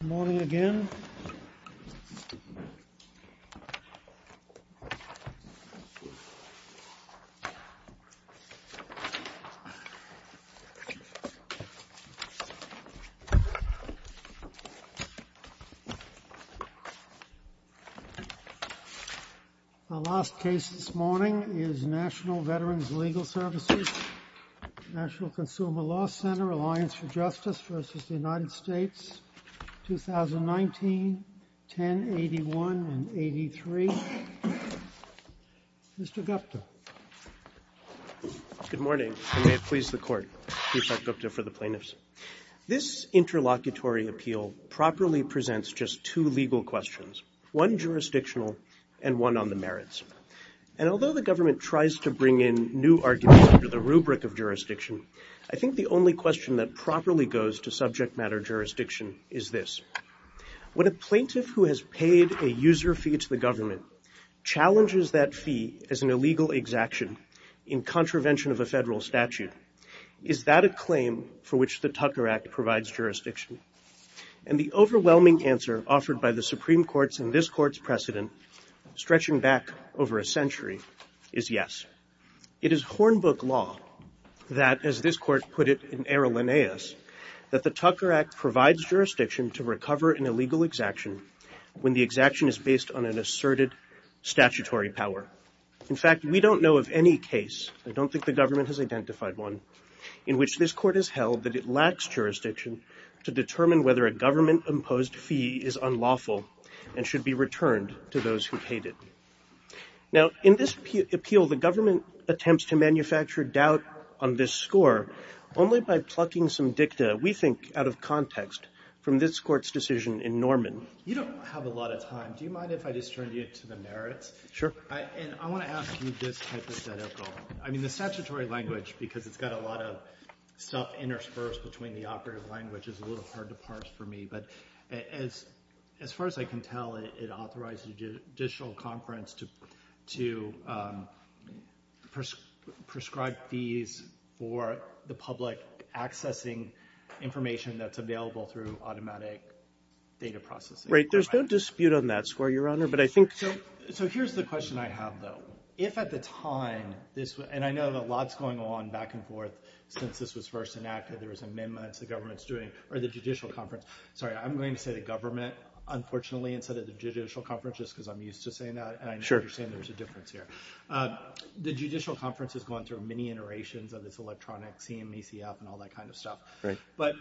Good morning again. Our last case this morning is National Veterans Legal Services, National Consumer Law Center, Reliance for Justice v. United States, 2019, 1081 and 83. Mr. Gupta. Good morning. And may it please the court, Chief Justice Gupta for the plaintiffs. This interlocutory appeal properly presents just two legal questions, one jurisdictional and one on the merits. And although the government tries to bring in new arguments under the rubric of jurisdiction, I think the only question that properly goes to subject matter jurisdiction is this. When a plaintiff who has paid a user fee to the government challenges that fee as an illegal exaction in contravention of a federal statute, is that a claim for which the Tucker Act provides jurisdiction? And the overwhelming answer offered by the Supreme Court's and this Court's precedent stretching back over a century is yes. It is Hornbook law that, as this Court put it in Errol Linnaeus, that the Tucker Act provides jurisdiction to recover an illegal exaction when the exaction is based on an asserted statutory power. In fact, we don't know of any case, I don't think the government has identified one, in which this Court has held that it lacks jurisdiction to determine whether a government-imposed fee is unlawful and should be returned to those who paid it. Now, in this appeal, the government attempts to manufacture doubt on this score only by plucking some dicta, we think, out of context from this Court's decision in Norman. You don't have a lot of time. Do you mind if I just turn you to the merits? Sure. And I want to ask you this hypothetical. I mean, the statutory language, because it's got a lot of stuff interspersed between the operative language, is a little hard to parse for me. But as far as I can tell, it authorized the Judicial Conference to prescribe fees for the public accessing information that's available through automatic data processing. Right. There's no dispute on that score, Your Honor, but I think... So here's the question I have, though. If at the time, and I know a lot's going on back and forth since this was first enacted, there was amendments the government's doing, or the Judicial Conference... Sorry, I'm going to say the government, unfortunately, instead of the Judicial Conference, just because I'm used to saying that. Sure. And I understand there's a difference here. The Judicial Conference has gone through many iterations of this electronic CMACF and all that kind of stuff. Right. But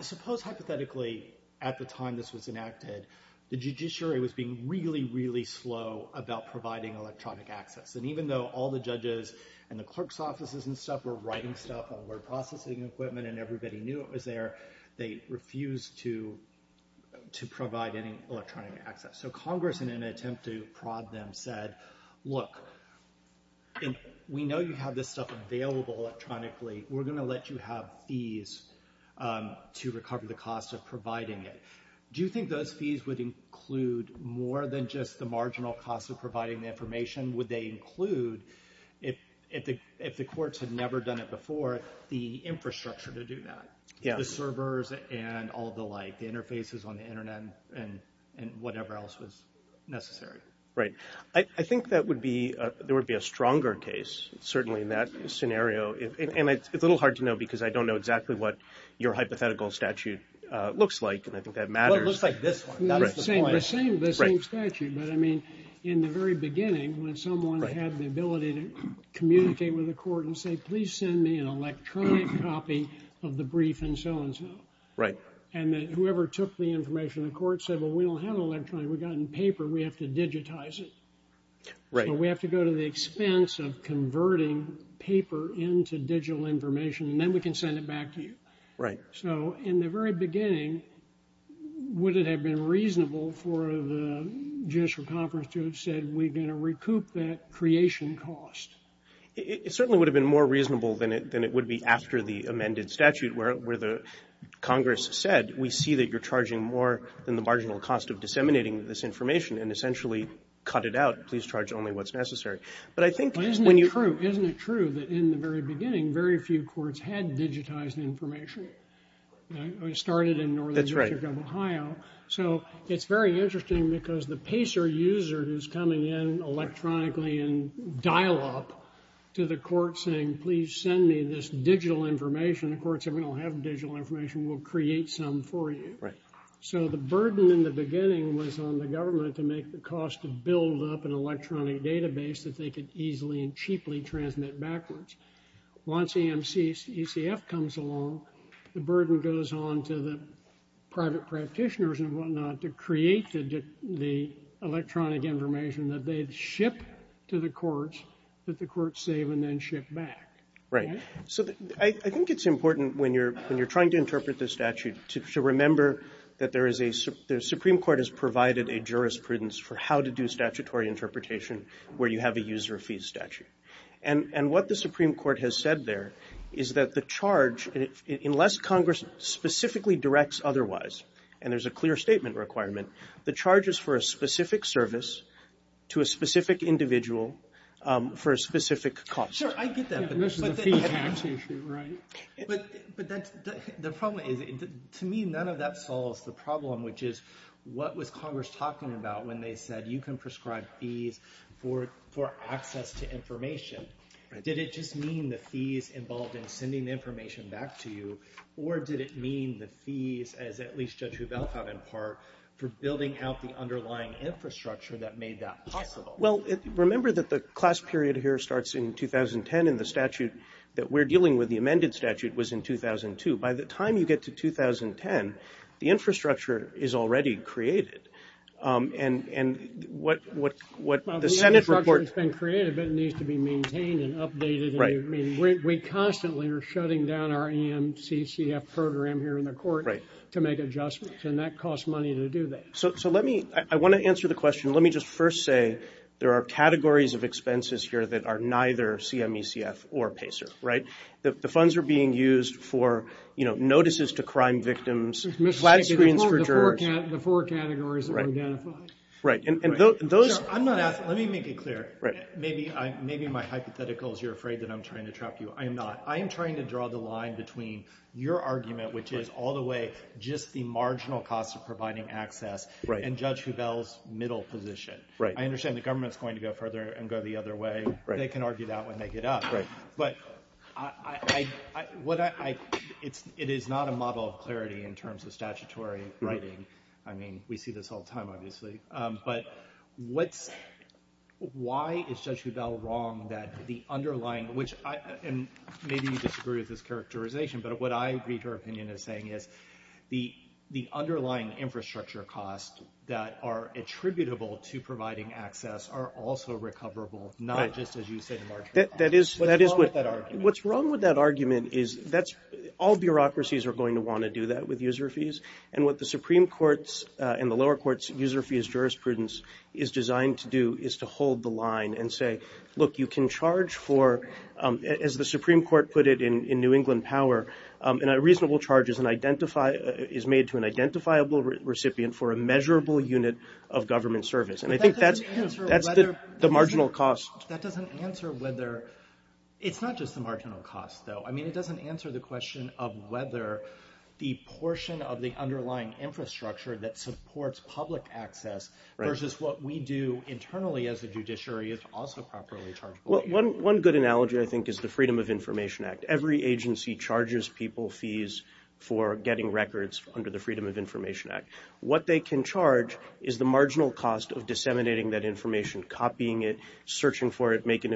suppose, hypothetically, at the time this was enacted, the judiciary was being really, really slow about providing electronic access. And even though all the judges and the clerk's offices and stuff were writing stuff and word of equipment and everybody knew it was there, they refused to provide any electronic access. So Congress, in an attempt to prod them, said, look, we know you have this stuff available electronically. We're going to let you have fees to recover the cost of providing it. Do you think those fees would include more than just the marginal cost of providing the information? How much more information would they include if the courts had never done it before, the infrastructure to do that, the servers and all the like, the interfaces on the internet and whatever else was necessary? Right. I think there would be a stronger case, certainly, in that scenario. And it's a little hard to know because I don't know exactly what your hypothetical statute looks like. And I think that matters. That's the point. The same statute. Right. I mean, if someone had the ability to communicate with the court and say, please send me an electronic copy of the brief and so and so. Right. And whoever took the information, the court said, well, we don't have electronic. We got it in paper. We have to digitize it. Right. We have to go to the expense of converting paper into digital information, and then we can send it back to you. Right. So in the very beginning, would it have been reasonable for the judicial conference to have said, we're going to recoup that creation cost? It certainly would have been more reasonable than it would be after the amended statute where the Congress said, we see that you're charging more than the marginal cost of disseminating this information, and essentially cut it out. Please charge only what's necessary. But I think when you But isn't it true, isn't it true that in the very beginning, very few courts had digitized information? It started in Northern District of Ohio. That's right. So it's very interesting because the PACER user who's coming in electronically and dial up to the court saying, please send me this digital information, the court said, we don't have digital information. We'll create some for you. Right. So the burden in the beginning was on the government to make the cost to build up an electronic database that they could easily and cheaply transmit backwards. Once EMC, ECF comes along, the burden goes on to the private practitioners and whatnot to create the electronic information that they'd ship to the courts that the courts save and then ship back. Right. So I think it's important when you're trying to interpret the statute to remember that there is a Supreme Court has provided a jurisprudence for how to do statutory interpretation where you have a user fee statute. Right. And what the Supreme Court has said there is that the charge, unless Congress specifically directs otherwise, and there's a clear statement requirement, the charges for a specific service to a specific individual for a specific cost. Sure. I get that. But the problem is, to me, none of that solves the problem, which is what was Congress talking about when they said you can prescribe fees for access to information. Right. Did it just mean the fees involved in sending the information back to you, or did it mean the fees, as at least Judge Hubel thought in part, for building out the underlying infrastructure that made that possible? Well, remember that the class period here starts in 2010 and the statute that we're dealing with, the amended statute, was in 2002. By the time you get to 2010, the infrastructure is already created, and what the Senate report Well, the infrastructure has been created, but it needs to be maintained and updated. Right. I mean, we constantly are shutting down our EMCCF program here in the court. Right. To make adjustments, and that costs money to do that. So let me, I want to answer the question. Let me just first say there are categories of expenses here that are neither CMECF or PACER, right? The funds are being used for, you know, notices to crime victims, flat screens for jurors. The four categories that were identified. Right. And those I'm not asking, let me make it clear. Right. Maybe my hypothetical is you're afraid that I'm trying to trap you. I am not. I am trying to draw the line between your argument, which is all the way just the marginal cost of providing access, and Judge Hubel's middle position. Right. I understand the government's going to go further and go the other way. Right. They can argue that when they get up. Right. But I, what I, it's, it is not a model of clarity in terms of statutory writing. I mean, we see this all the time, obviously. But what's, why is Judge Hubel wrong that the underlying, which I, and maybe you disagree with this characterization, but what I read her opinion as saying is the underlying infrastructure costs that are attributable to providing access are also recoverable, not just as you said What's wrong with that argument? What's wrong with that argument is that's, all bureaucracies are going to want to do that with user fees. And what the Supreme Court's and the lower court's user fees jurisprudence is designed to do is to hold the line and say, look, you can charge for, as the Supreme Court put it in New England Power, and a reasonable charge is an identify, is made to an identifiable recipient for a measurable unit of government service. And I think that's, that's the marginal cost. That doesn't answer whether, it's not just the marginal cost though. I mean, it doesn't answer the question of whether the portion of the underlying infrastructure that supports public access versus what we do internally as a judiciary is also properly chargeable. Well, one, one good analogy I think is the Freedom of Information Act. Every agency charges people fees for getting records under the Freedom of Information Act. What they can charge is the marginal cost of disseminating that information, copying it, searching for it, making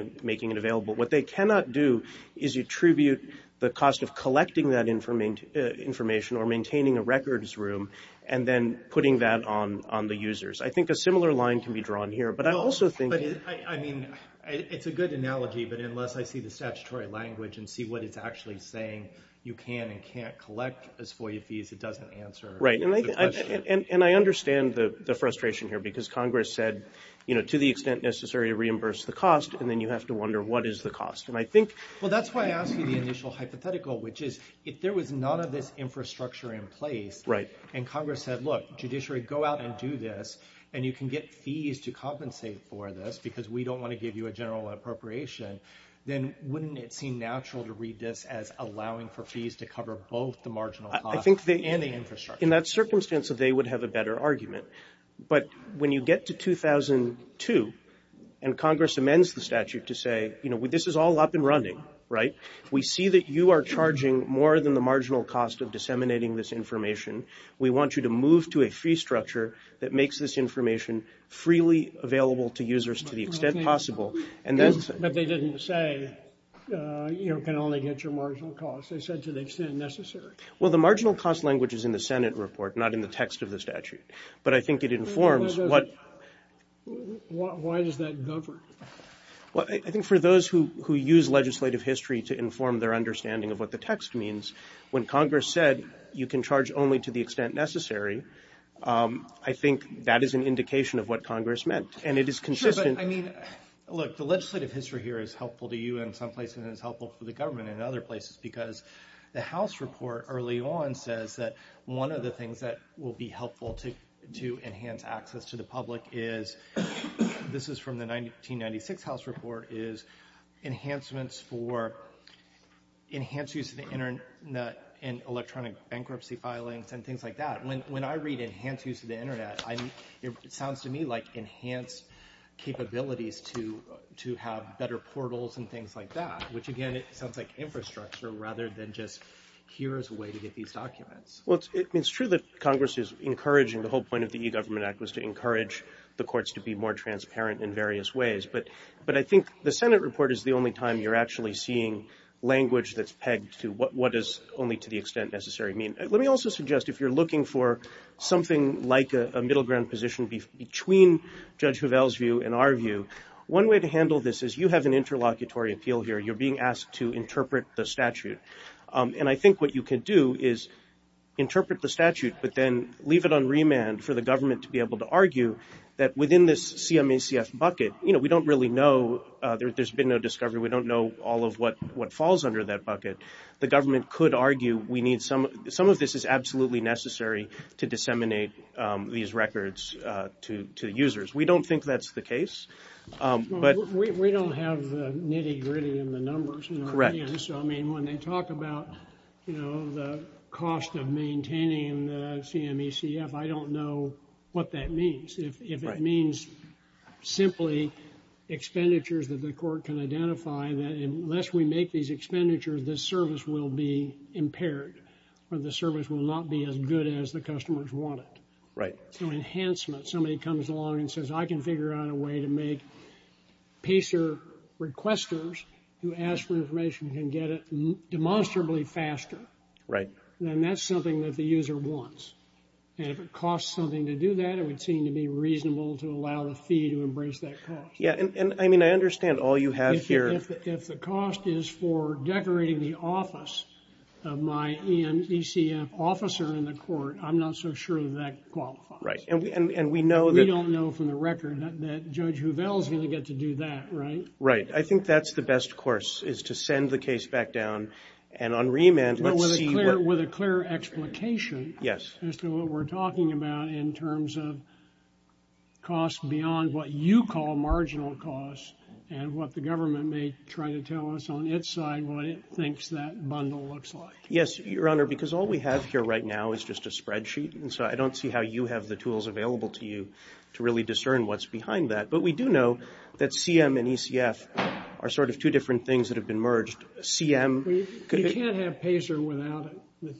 it available. What they cannot do is attribute the cost of collecting that information or maintaining a records room and then putting that on the users. I think a similar line can be drawn here. But I also think... No, but I mean, it's a good analogy, but unless I see the statutory language and see what it's actually saying, you can and can't collect as FOIA fees, it doesn't answer the question. Right, and I understand the frustration here because Congress said, you know, to the extent necessary to reimburse the cost, and then you have to wonder, what is the cost? And I think... Well, that's why I asked you the initial hypothetical, which is, if there was none of this infrastructure in place... Right. And Congress said, look, judiciary, go out and do this, and you can get fees to compensate for this because we don't want to give you a general appropriation, then wouldn't it seem natural to read this as allowing for fees to cover both the marginal cost... I think they... And the infrastructure. In that circumstance, they would have a better argument. But when you get to 2002, and Congress amends the statute to say, you know, this is all up and running, right? We see that you are charging more than the marginal cost of disseminating this information. We want you to move to a fee structure that makes this information freely available to users to the extent possible, and then... But they didn't say you can only get your marginal cost. They said to the extent necessary. Well, the marginal cost language is in the Senate report, not in the text of the statute. But I think it informs what... Why does that govern? Well, I think for those who use legislative history to inform their understanding of what the text means, when Congress said you can charge only to the extent necessary, I think that is an indication of what Congress meant. And it is consistent... Sure, but I mean, look, the legislative history here is helpful to you in some places, and early on says that one of the things that will be helpful to enhance access to the public is... This is from the 1996 House report, is enhancements for... Enhance use of the internet and electronic bankruptcy filings and things like that. When I read enhance use of the internet, it sounds to me like enhanced capabilities to have better portals and things like that, which, again, it sounds like infrastructure rather than just here is a way to get these documents. Well, it's true that Congress is encouraging... The whole point of the E-Government Act was to encourage the courts to be more transparent in various ways. But I think the Senate report is the only time you're actually seeing language that's pegged to what is only to the extent necessary mean. Let me also suggest, if you're looking for something like a middle ground position between Judge Hovell's view and our view, one way to handle this is you have an interlocutory appeal here. You're being asked to interpret the statute. And I think what you can do is interpret the statute, but then leave it on remand for the government to be able to argue that within this CMACF bucket, we don't really know. There's been no discovery. We don't know all of what falls under that bucket. The government could argue we need some... Some of this is absolutely necessary to disseminate these records to users. We don't think that's the case, but... Correct. I mean, when they talk about, you know, the cost of maintaining the CMACF, I don't know what that means. Right. If it means simply expenditures that the court can identify that unless we make these expenditures, the service will be impaired or the service will not be as good as the customers want it. Right. So enhancement. If somebody comes along and says, I can figure out a way to make PACER requesters who ask for information can get it demonstrably faster. Right. Then that's something that the user wants. And if it costs something to do that, it would seem to be reasonable to allow the fee to embrace that cost. Yeah. And I mean, I understand all you have here. If the cost is for decorating the office of my EMECF officer in the court, I'm not so sure that that qualifies. Right. And we know that... We don't know from the record that Judge Hovell's going to get to do that, right? Right. I think that's the best course is to send the case back down and on remand, let's see... With a clear explication... Yes. ...as to what we're talking about in terms of costs beyond what you call marginal costs and what the government may try to tell us on its side what it thinks that bundle looks like. Yes, Your Honor, because all we have here right now is just a spreadsheet. And so I don't see how you have the tools available to you to really discern what's behind that. But we do know that CM and ECF are sort of two different things that have been merged. CM... You can't have PACER without it,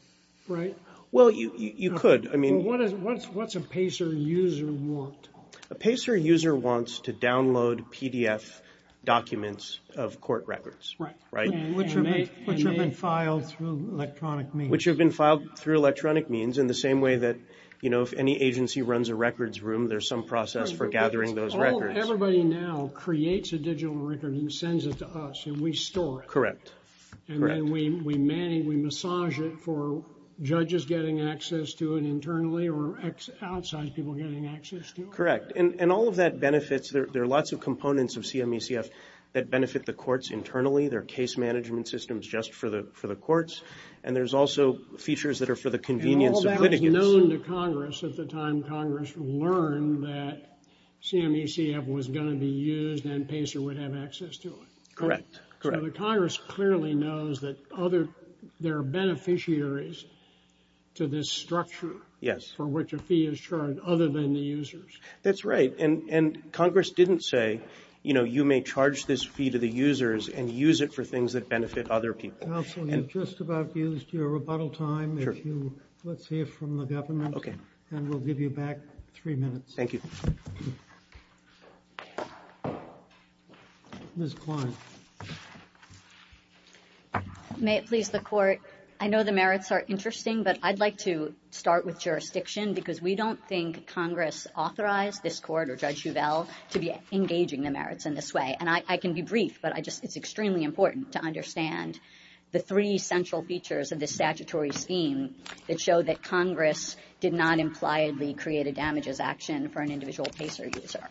right? Well, you could. I mean... What does... What's a PACER user want? A PACER user wants to download PDF documents of court records. Right. Right. And they... Which have been filed through electronic means. Which have been filed through electronic means in the same way that, you know, if any agency runs a records room, there's some process for gathering those records. Everybody now creates a digital record and sends it to us, and we store it. Correct. Correct. And then we massage it for judges getting access to it internally or outside people getting access to it. Correct. And all of that benefits... There are lots of components of CM and ECF that benefit the courts internally. There are case management systems just for the courts. And there's also features that are for the convenience of litigants. And all that was known to Congress at the time Congress learned that CM and ECF was going to be used and PACER would have access to it. Correct. Correct. So the Congress clearly knows that other... There are beneficiaries to this structure. Yes. For which a fee is charged other than the users. That's right. And Congress didn't say, you know, you may charge this fee to the users and use it for things that benefit other people. Counsel, you've just about used your rebuttal time. Let's hear from the government. Okay. And we'll give you back three minutes. Thank you. Ms. Klein. May it please the Court. I know the merits are interesting, but I'd like to start with jurisdiction because we don't think Congress authorized this Court or Judge Huvel to be engaging the merits in this way. And I can be brief, but it's extremely important to understand the three central features of this statutory scheme that show that Congress did not impliedly create a damages action for an individual PACER user.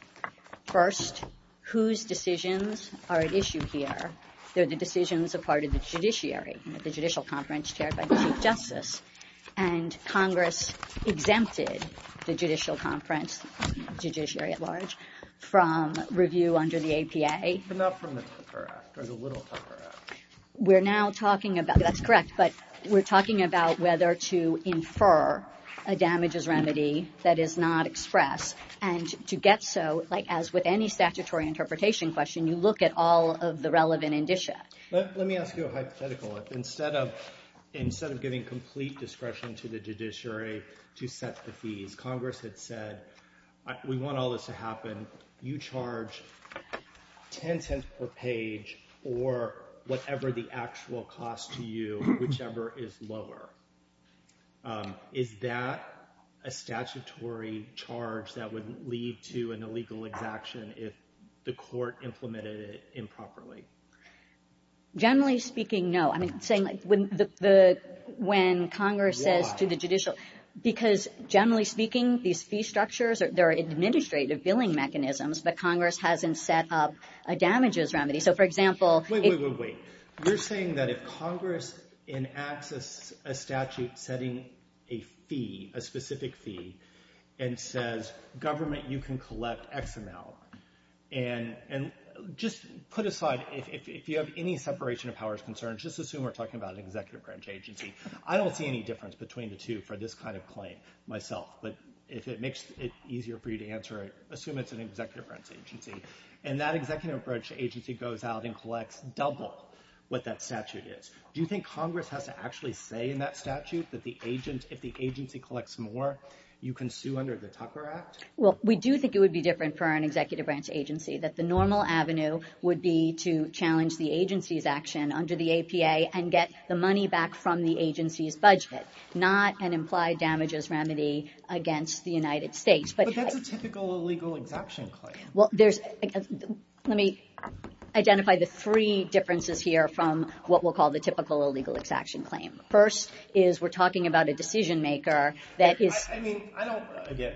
First, whose decisions are at issue here, they're the decisions of part of the judiciary at the Judicial Conference chaired by the Chief Justice, and Congress exempted the Judicial Conference judiciary at large from review under the APA. But not from the Tucker Act or the Little Tucker Act. We're now talking about, that's correct, but we're talking about whether to infer a damages remedy that is not expressed and to get so, like as with any statutory interpretation question, you look at all of the relevant indicia. Let me ask you a hypothetical. Instead of giving complete discretion to the judiciary to set the fees, Congress had said, we want all this to happen, you charge 10 cents per page or whatever the actual cost to you, whichever is lower. Is that a statutory charge that would lead to an illegal exaction if the court implemented it improperly? Generally speaking, no. When Congress says to the judicial, because generally speaking, these fee structures, they're administrative billing mechanisms, but Congress hasn't set up a damages remedy. So, for example... Wait, wait, wait, wait. You're saying that if Congress enacts a statute setting a fee, a specific fee, and says, government, you can collect XML, and just put aside, if you have any separation of powers concerns, just assume we're talking about an executive branch agency. I don't see any difference between the two for this kind of claim myself, but if it makes it easier for you to answer, assume it's an executive branch agency. And that executive branch agency goes out and collects double what that statute is. Do you think Congress has to actually say in that statute that if the agency collects more, you can sue under the Tucker Act? Well, we do think it would be different for an executive branch agency, that the normal and get the money back from the agency's budget, not an implied damages remedy against the United States. But that's a typical illegal exaction claim. Well, there's... Let me identify the three differences here from what we'll call the typical illegal exaction claim. First is we're talking about a decision maker that is... I mean, I don't... Again,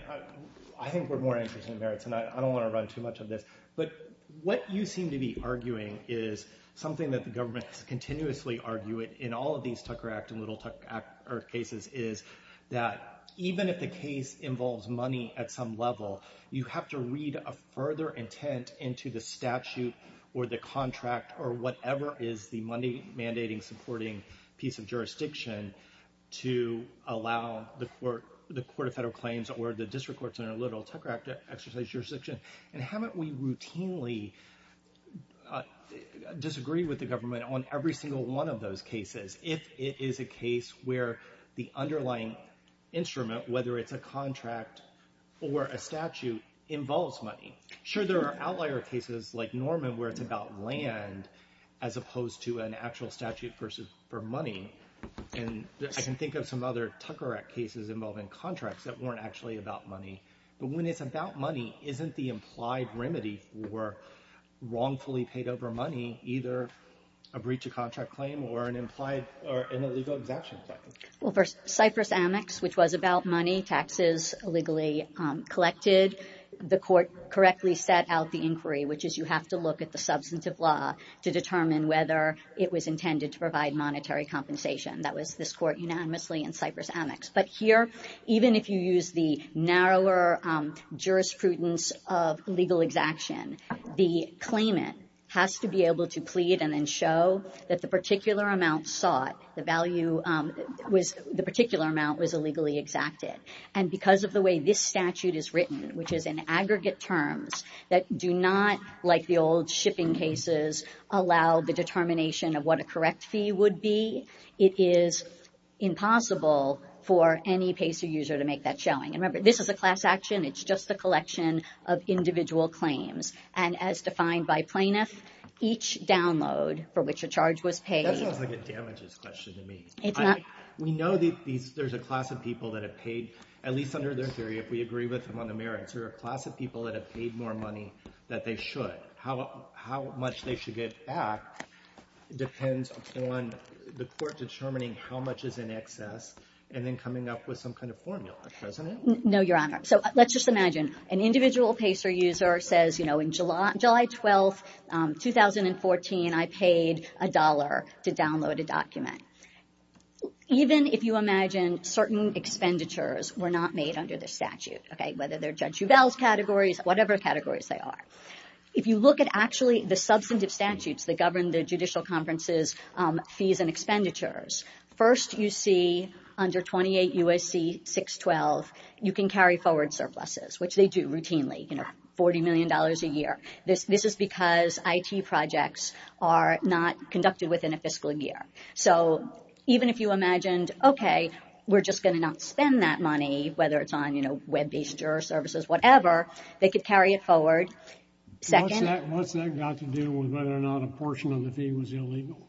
I think we're more interested in merits, and I don't want to run too much of this. But what you seem to be arguing is something that the government has continuously argued in all of these Tucker Act and Little Tucker Act cases is that even if the case involves money at some level, you have to read a further intent into the statute or the contract or whatever is the money mandating supporting piece of jurisdiction to allow the Court of Federal Claims or the District Courts under Little Tucker Act to exercise jurisdiction. And haven't we routinely disagreed with the government on every single one of those cases if it is a case where the underlying instrument, whether it's a contract or a statute, involves money? Sure, there are outlier cases like Norman where it's about land as opposed to an actual statute for money. And I can think of some other Tucker Act cases involving contracts that weren't actually about money. But when it's about money, isn't the implied remedy for wrongfully paid over money either a breach of contract claim or an implied or an illegal exemption claim? Well, for Cypress-Amex, which was about money, taxes illegally collected, the Court correctly set out the inquiry, which is you have to look at the substantive law to determine whether it was intended to provide monetary compensation. That was this Court unanimously in Cypress-Amex. But here, even if you use the narrower jurisprudence of legal exaction, the claimant has to be able to plead and then show that the particular amount sought, the value was, the particular amount was illegally exacted. And because of the way this statute is written, which is in aggregate terms, that do not, like the old shipping cases, allow the determination of what a correct fee would be, it is impossible for any pacer user to make that showing. And remember, this is a class action. It's just a collection of individual claims. And as defined by plaintiff, each download for which a charge was paid. That sounds like a damages question to me. It's not. We know there's a class of people that have paid, at least under their theory, if we agree with them on the merits, there are a class of people that have paid more money than they should. But how much they should get back depends on the court determining how much is in excess and then coming up with some kind of formula, doesn't it? No, Your Honor. So, let's just imagine an individual pacer user says, you know, in July 12, 2014, I paid a dollar to download a document. Even if you imagine certain expenditures were not made under the statute, okay, whether they're Judge Jubell's categories, whatever categories they are. If you look at actually the substantive statutes that govern the judicial conferences' fees and expenditures, first you see under 28 U.S.C. 612, you can carry forward surpluses, which they do routinely, you know, $40 million a year. This is because IT projects are not conducted within a fiscal year. So, even if you imagined, okay, we're just going to not spend that money, whether it's on, you know, web-based juror services, whatever, they could carry it forward. Second... What's that got to do with whether or not a portion of the fee was illegal?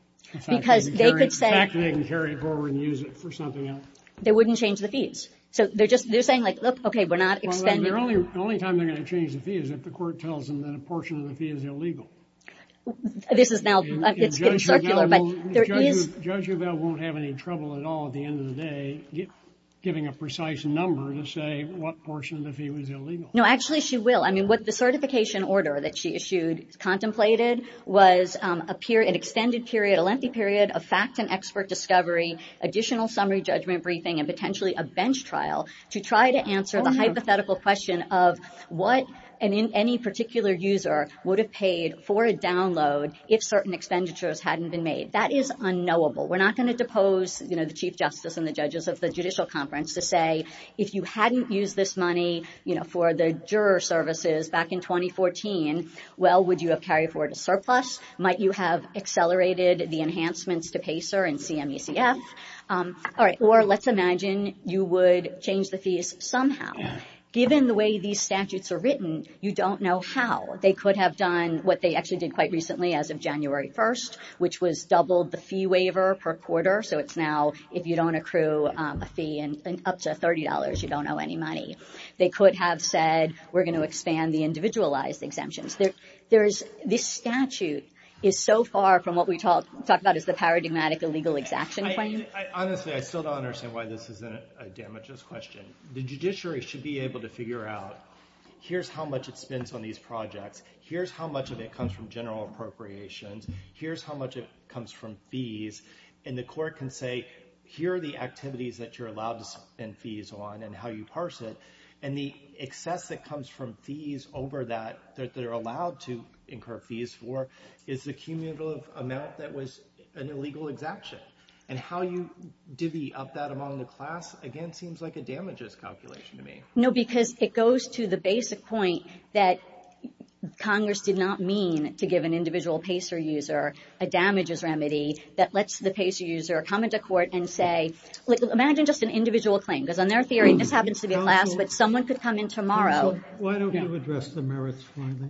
Because they could say... The fact that they can carry it forward and use it for something else. They wouldn't change the fees. So, they're just, they're saying like, look, okay, we're not expending... Well, the only time they're going to change the fee is if the court tells them that a portion of the fee is illegal. This is now, it's getting circular, but there is... Judge Jubell won't have any trouble at all at the end of the day giving a precise number to say what portion of the fee was illegal. No, actually, she will. I mean, what the certification order that she issued contemplated was an extended period, a lengthy period of fact and expert discovery, additional summary judgment briefing, and potentially a bench trial to try to answer the hypothetical question of what any particular user would have paid for a download if certain expenditures hadn't been made. That is unknowable. We're not going to depose, you know, the Chief Justice and the judges of the judicial conference to say, if you hadn't used this money, you know, for the juror services back in 2014, well, would you have carried forward a surplus? Might you have accelerated the enhancements to PACER and CMUCF? All right, or let's imagine you would change the fees somehow. Given the way these statutes are written, you don't know how. They could have done what they actually did quite recently as of January 1st, which was up to $30. You don't know any money. They could have said, we're going to expand the individualized exemptions. This statute is so far from what we talk about as the paradigmatic illegal exaction claim. Honestly, I still don't understand why this isn't a damages question. The judiciary should be able to figure out, here's how much it spends on these projects. Here's how much of it comes from general appropriations. Here's how much it comes from fees. And the court can say, here are the activities that you're allowed to spend fees on and how you parse it. And the excess that comes from fees over that, that they're allowed to incur fees for, is the cumulative amount that was an illegal exaction. And how you divvy up that among the class, again, seems like a damages calculation to me. No, because it goes to the basic point that Congress did not mean to give an individual PACER user a damages remedy that lets the PACER user come into court and say, imagine just an individual claim. Because on their theory, this happens to be a class, but someone could come in tomorrow. Why don't you address the merits finally?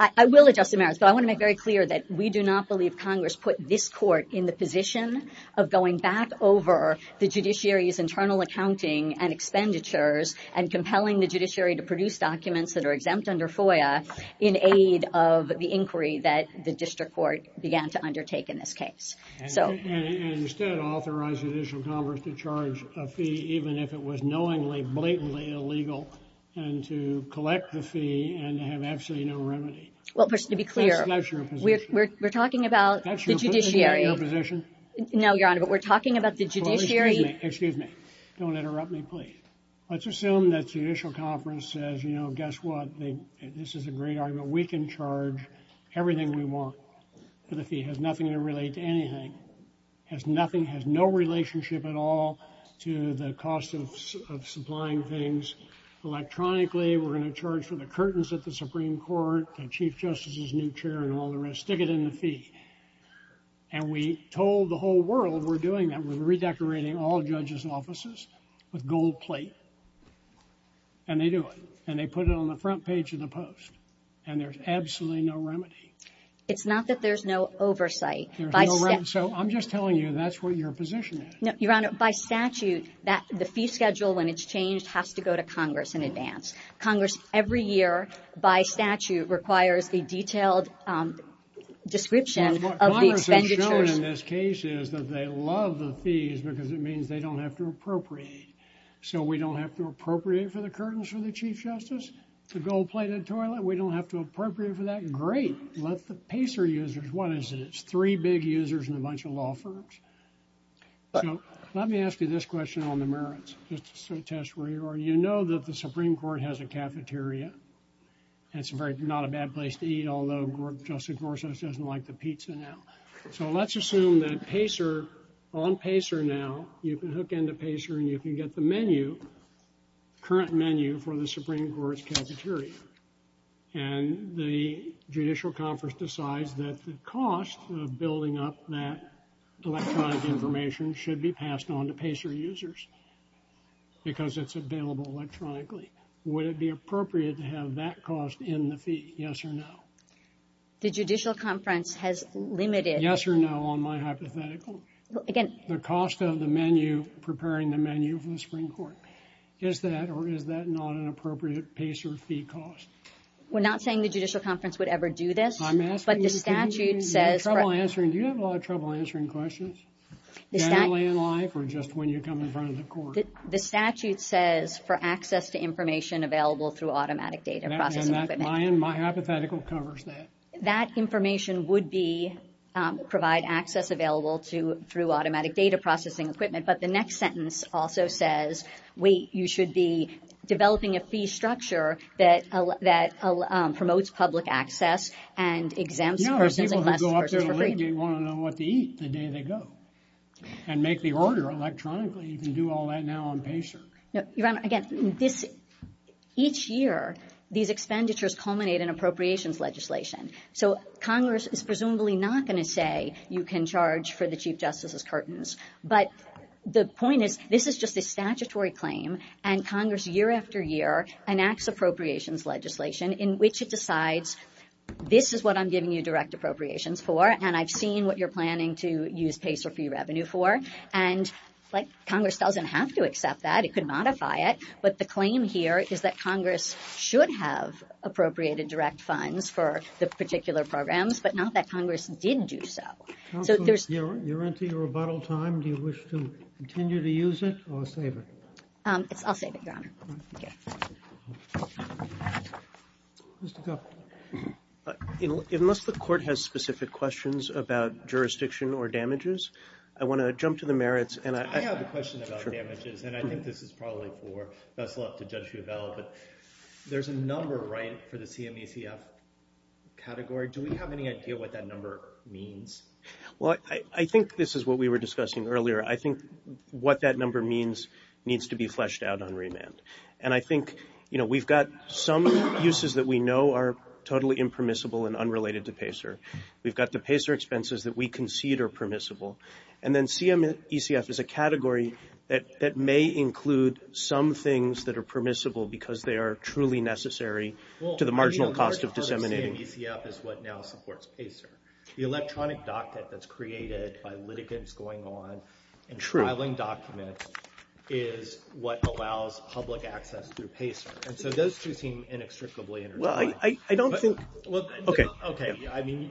I will address the merits, but I want to make very clear that we do not believe Congress put this court in the position of going back over the judiciary's internal accounting and expenditures and compelling the judiciary to produce documents that are exempt under FOIA in aid of the inquiry that the district court began to undertake in this case. And instead, authorize the Judicial Conference to charge a fee even if it was knowingly, blatantly illegal and to collect the fee and have absolutely no remedy. Well, first, to be clear, we're talking about the judiciary. That's your position? No, Your Honor, but we're talking about the judiciary. Excuse me. Don't interrupt me, please. Let's assume that Judicial Conference says, you know, guess what? This is a great argument. We can charge everything we want for the fee. It has nothing to relate to anything. It has nothing, has no relationship at all to the cost of supplying things electronically. We're going to charge for the curtains at the Supreme Court, the Chief Justice's new chair and all the rest. Stick it in the fee. And we told the whole world we're doing that. We're redecorating all judges' offices with gold plate. And they do it and they put it on the front page of the Post. And there's absolutely no remedy. It's not that there's no oversight. So I'm just telling you that's what your position is. No, Your Honor, by statute, the fee schedule, when it's changed, has to go to Congress in advance. Congress every year, by statute, requires a detailed description of the expenditures. What they've shown in this case is that they love the fees because it means they don't have to appropriate. So we don't have to appropriate for the curtains for the Chief Justice, the gold-plated toilet? We don't have to appropriate for that? Great. Let the PACER users. What is it? It's three big users and a bunch of law firms. Let me ask you this question on the merits, just to test where you are. You know that the Supreme Court has a cafeteria. It's not a bad place to eat, although Justice Gorsuch doesn't like the pizza now. So let's assume that PACER, on PACER now, you can hook into PACER and you can get the menu, current menu for the Supreme Court's cafeteria. And the Judicial Conference decides that the cost of building up that electronic information should be passed on to PACER users because it's available electronically. Would it be appropriate to have that cost in the fee, yes or no? The Judicial Conference has limited... Yes or no on my hypothetical. Again... The cost of the menu, preparing the menu for the Supreme Court. Is that or is that not an appropriate PACER fee cost? We're not saying the Judicial Conference would ever do this, but the statute says... Do you have a lot of trouble answering questions? Generally in life or just when you come in front of the court? The statute says for access to information available through automatic data processing equipment. Ryan, my hypothetical covers that. That information would be, provide access available through automatic data processing equipment, but the next sentence also says, wait, you should be developing a fee structure that promotes public access and exempts persons... No, the people who go up there to litigate want to know what to eat the day they go and make the order electronically. You can do all that now on PACER. Your Honor, again, each year these expenditures culminate in appropriations legislation. So Congress is presumably not going to say you can charge for the Chief Justice's curtains, but the point is this is just a statutory claim, and Congress year after year enacts appropriations legislation in which it decides this is what I'm giving you direct appropriations for and I've seen what you're planning to use PACER fee revenue for. And, like, Congress doesn't have to accept that. It could modify it. But the claim here is that Congress should have appropriated direct funds for the particular programs, but not that Congress did do so. Counsel, you're into your rebuttal time. Do you wish to continue to use it or save it? I'll save it, Your Honor. All right. Thank you. Mr. Gupta. Unless the court has specific questions about jurisdiction or damages, I want to jump to the merits. I have a question about damages, and I think this is probably for best luck to Judge Ruvel, but there's a number, right, for the CMETF category. Do we have any idea what that number means? Well, I think this is what we were discussing earlier. I think what that number means needs to be fleshed out on remand. And I think, you know, we've got some uses that we know are totally impermissible and unrelated to PACER. We've got the PACER expenses that we concede are permissible. And then CMETF is a category that may include some things that are permissible because they are truly necessary to the marginal cost of disseminating. Well, I mean, a large part of CMETF is what now supports PACER. The electronic docket that's created by litigants going on and filing documents is what allows public access through PACER. And so those two seem inextricably intertwined. Well, I don't think. Okay. Okay. I mean,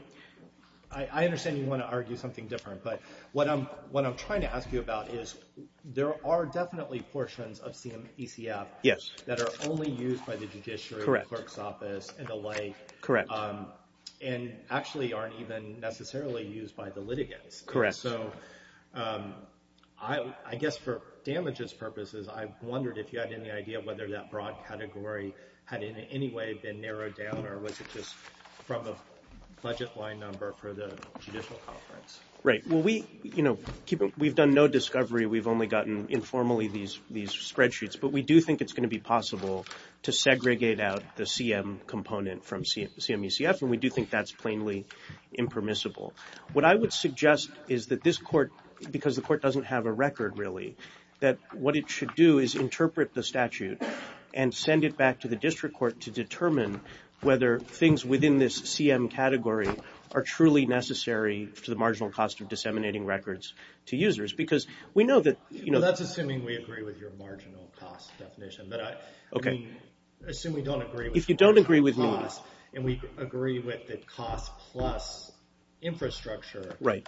I understand you want to argue something different, but what I'm trying to ask you about is there are definitely portions of CMETF that are only used by the judiciary, clerk's office, and the like. Correct. And actually aren't even necessarily used by the litigants. Correct. So I guess for damages purposes, I wondered if you had any idea whether that broad category had in any way been narrowed down or was it just from the budget line number for the judicial conference? Right. Well, we've done no discovery. We've only gotten informally these spreadsheets, but we do think it's going to be possible to segregate out the CM component from CMETF, and we do think that's plainly impermissible. What I would suggest is that this court, because the court doesn't have a record really, that what it should do is interpret the statute and send it back to the district court to determine whether things within this CM category are truly necessary to the marginal cost of disseminating records to users, because we know that, you know. Well, that's assuming we agree with your marginal cost definition. Okay. Assuming we don't agree with that cost. If you don't agree with me. And we agree with the cost plus infrastructure. Right.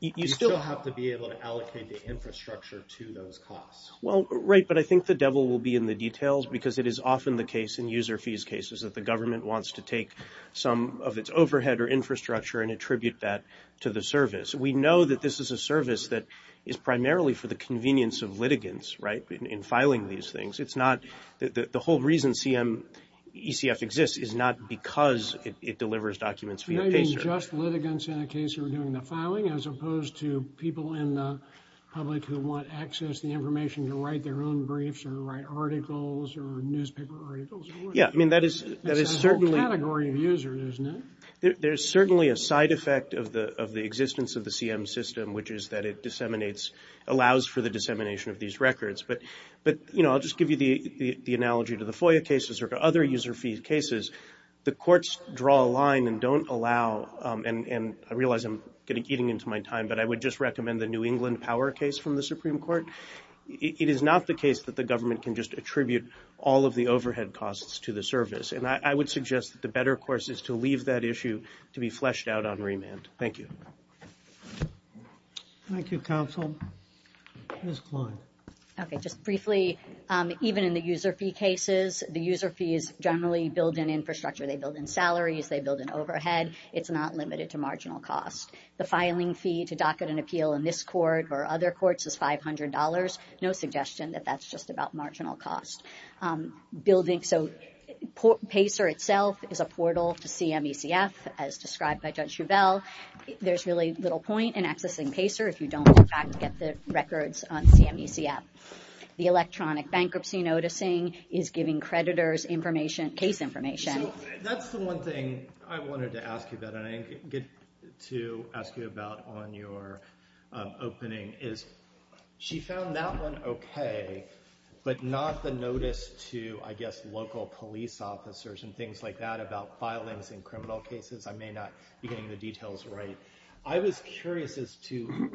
You still have to be able to allocate the infrastructure to those costs. Well, right, but I think the devil will be in the details, because it is often the case in user fees cases that the government wants to take some of its overhead or infrastructure and attribute that to the service. We know that this is a service that is primarily for the convenience of litigants, right, in filing these things. The whole reason ECF exists is not because it delivers documents via pacer. You're not doing just litigants in a case who are doing the filing, as opposed to people in the public who want access to the information to write their own briefs or write articles or newspaper articles. Yeah, I mean, that is certainly. That's a whole category of users, isn't it? There's certainly a side effect of the existence of the CM system, which is that it disseminates, allows for the dissemination of these records. But, you know, I'll just give you the analogy to the FOIA cases or to other user fee cases. The courts draw a line and don't allow, and I realize I'm getting into my time, but I would just recommend the New England Power case from the Supreme Court. It is not the case that the government can just attribute all of the overhead costs to the service. And I would suggest that the better course is to leave that issue to be fleshed out on remand. Thank you. Thank you, counsel. Ms. Kline. Okay, just briefly, even in the user fee cases, the user fees generally build in infrastructure. They build in salaries. They build in overhead. It's not limited to marginal cost. The filing fee to docket an appeal in this court or other courts is $500. No suggestion that that's just about marginal cost. Building, so PACER itself is a portal to CMECF, as described by Judge Shovell. There's really little point in accessing PACER if you don't, in fact, get the records on CMECF. The electronic bankruptcy noticing is giving creditors information, case information. So that's the one thing I wanted to ask you about, and I get to ask you about on your opening, is she found that one okay, but not the notice to, I guess, local police officers and things like that about filings in criminal cases. I may not be getting the details right. I was curious as to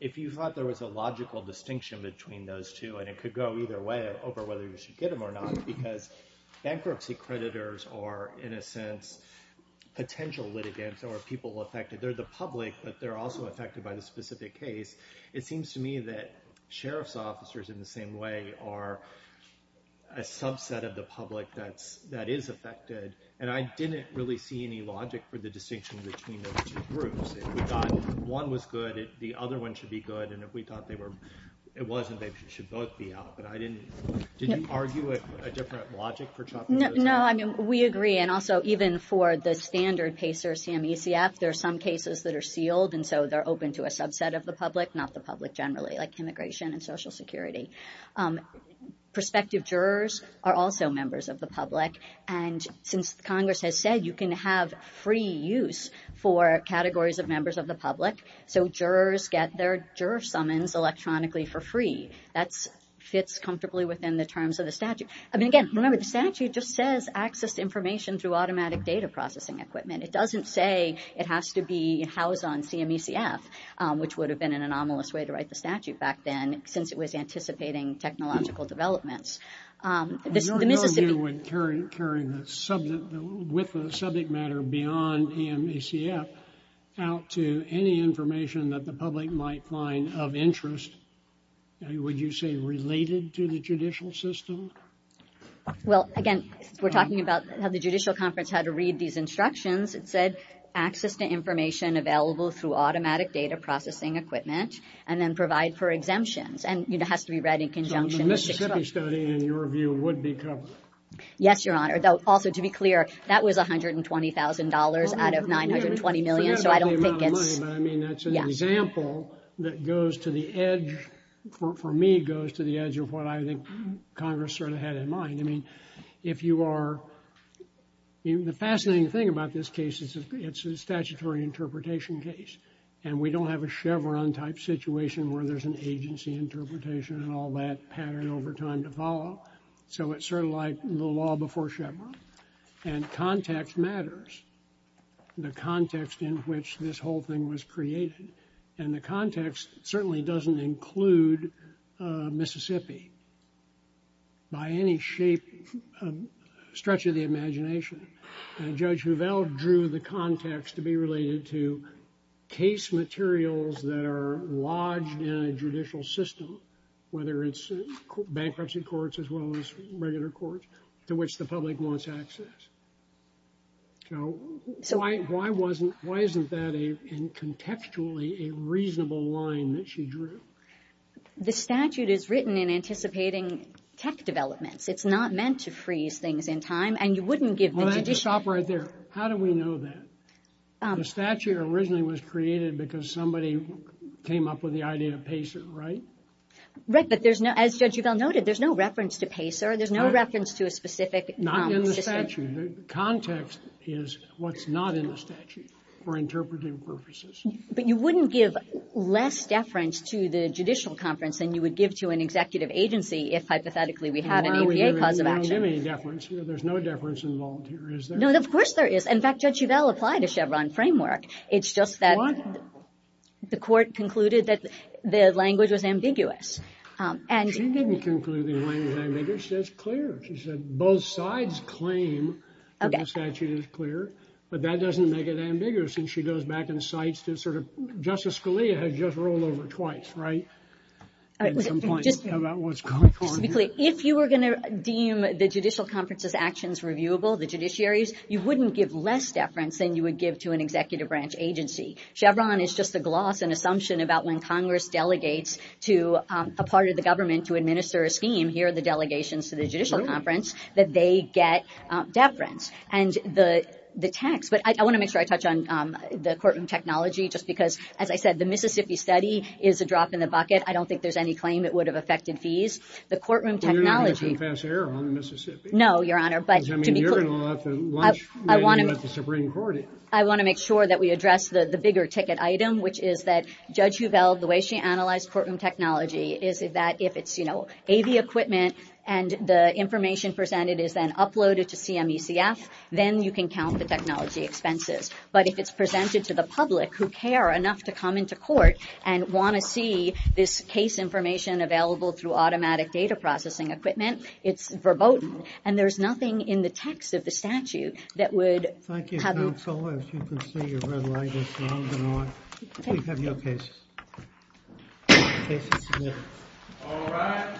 if you thought there was a logical distinction between those two, and it could go either way over whether you should get them or not, because bankruptcy creditors are, in a sense, potential litigants or people affected. They're the public, but they're also affected by the specific case. It seems to me that sheriff's officers in the same way are a subset of the public that is affected, and I didn't really see any logic for the distinction between those two groups. If we thought one was good, the other one should be good, and if we thought it wasn't, they should both be out, but I didn't. Did you argue a different logic for chopping those off? No, I mean, we agree, and also even for the standard PACER CMECF, there are some cases that are sealed, and so they're open to a subset of the public, not the public generally, like immigration and Social Security. Prospective jurors are also members of the public, and since Congress has said you can have free use for categories of members of the public, so jurors get their juror summons electronically for free. That fits comfortably within the terms of the statute. I mean, again, remember, the statute just says access to information through automatic data processing equipment. It doesn't say it has to be housed on CMECF, which would have been an anomalous way to write the statute back then, since it was anticipating technological developments. You're no good with carrying the subject matter beyond CMECF out to any information that the public might find of interest, would you say related to the judicial system? Well, again, we're talking about how the judicial conference had to read these instructions. It said access to information available through automatic data processing equipment, and then provide for exemptions, and it has to be read in conjunction. So the Mississippi study, in your view, would be covered? Yes, Your Honor. Also, to be clear, that was $120,000 out of $920 million, so I don't think it's... I mean, that's an example that goes to the edge, for me, goes to the edge of what I think Congress sort of had in mind. I mean, if you are... The fascinating thing about this case is it's a statutory interpretation case, and we don't have a Chevron-type situation where there's an agency interpretation and all that pattern over time to follow. So it's sort of like the law before Chevron. And context matters, the context in which this whole thing was created. And the context certainly doesn't include Mississippi by any shape, stretch of the imagination. Judge Huvel drew the context to be related to case materials that are lodged in a judicial system, whether it's bankruptcy courts as well as regular courts, to which the public wants access. So why wasn't... Why isn't that, contextually, a reasonable line that she drew? The statute is written in anticipating tech developments. It's not meant to freeze things in time, and you wouldn't give the judicial... Well, stop right there. How do we know that? The statute originally was created because somebody came up with the idea of PACER, right? Right, but there's no... As Judge Huvel noted, there's no reference to PACER. There's no reference to a specific system. The statute, the context is what's not in the statute for interpretive purposes. But you wouldn't give less deference to the judicial conference than you would give to an executive agency if, hypothetically, we had an APA cause of action. We don't give any deference. There's no deference involved here, is there? No, of course there is. In fact, Judge Huvel applied a Chevron framework. It's just that the court concluded that the language was ambiguous. She didn't conclude the language was ambiguous. She said it's clear. She said both sides claim that the statute is clear, but that doesn't make it ambiguous. And she goes back and cites this sort of... Justice Scalia has just rolled over twice, right, at some point, about what's going on here. Just to be clear, if you were going to deem the judicial conference's actions reviewable, the judiciaries, you wouldn't give less deference than you would give to an executive branch agency. Chevron is just a gloss and assumption about when Congress delegates to a part of the government to administer a scheme. Here are the delegations to the judicial conference that they get deference. And the tax... But I want to make sure I touch on the courtroom technology, just because, as I said, the Mississippi study is a drop in the bucket. I don't think there's any claim it would have affected fees. The courtroom technology... Well, you're not making some fast error on the Mississippi. No, Your Honor, but to be clear... Because, I mean, you're going to have to launch when you let the Supreme Court in. I want to make sure that we address the bigger ticket item, which is that Judge Huvel, the way she analyzed courtroom technology, is that if it's AV equipment and the information presented is then uploaded to CMECF, then you can count the technology expenses. But if it's presented to the public, who care enough to come into court and want to see this case information available through automatic data processing equipment, it's verboten. And there's nothing in the text of the statute that would have... Thank you, counsel. As you can see, your red light is long gone. Please have your cases. Cases submitted. All rise.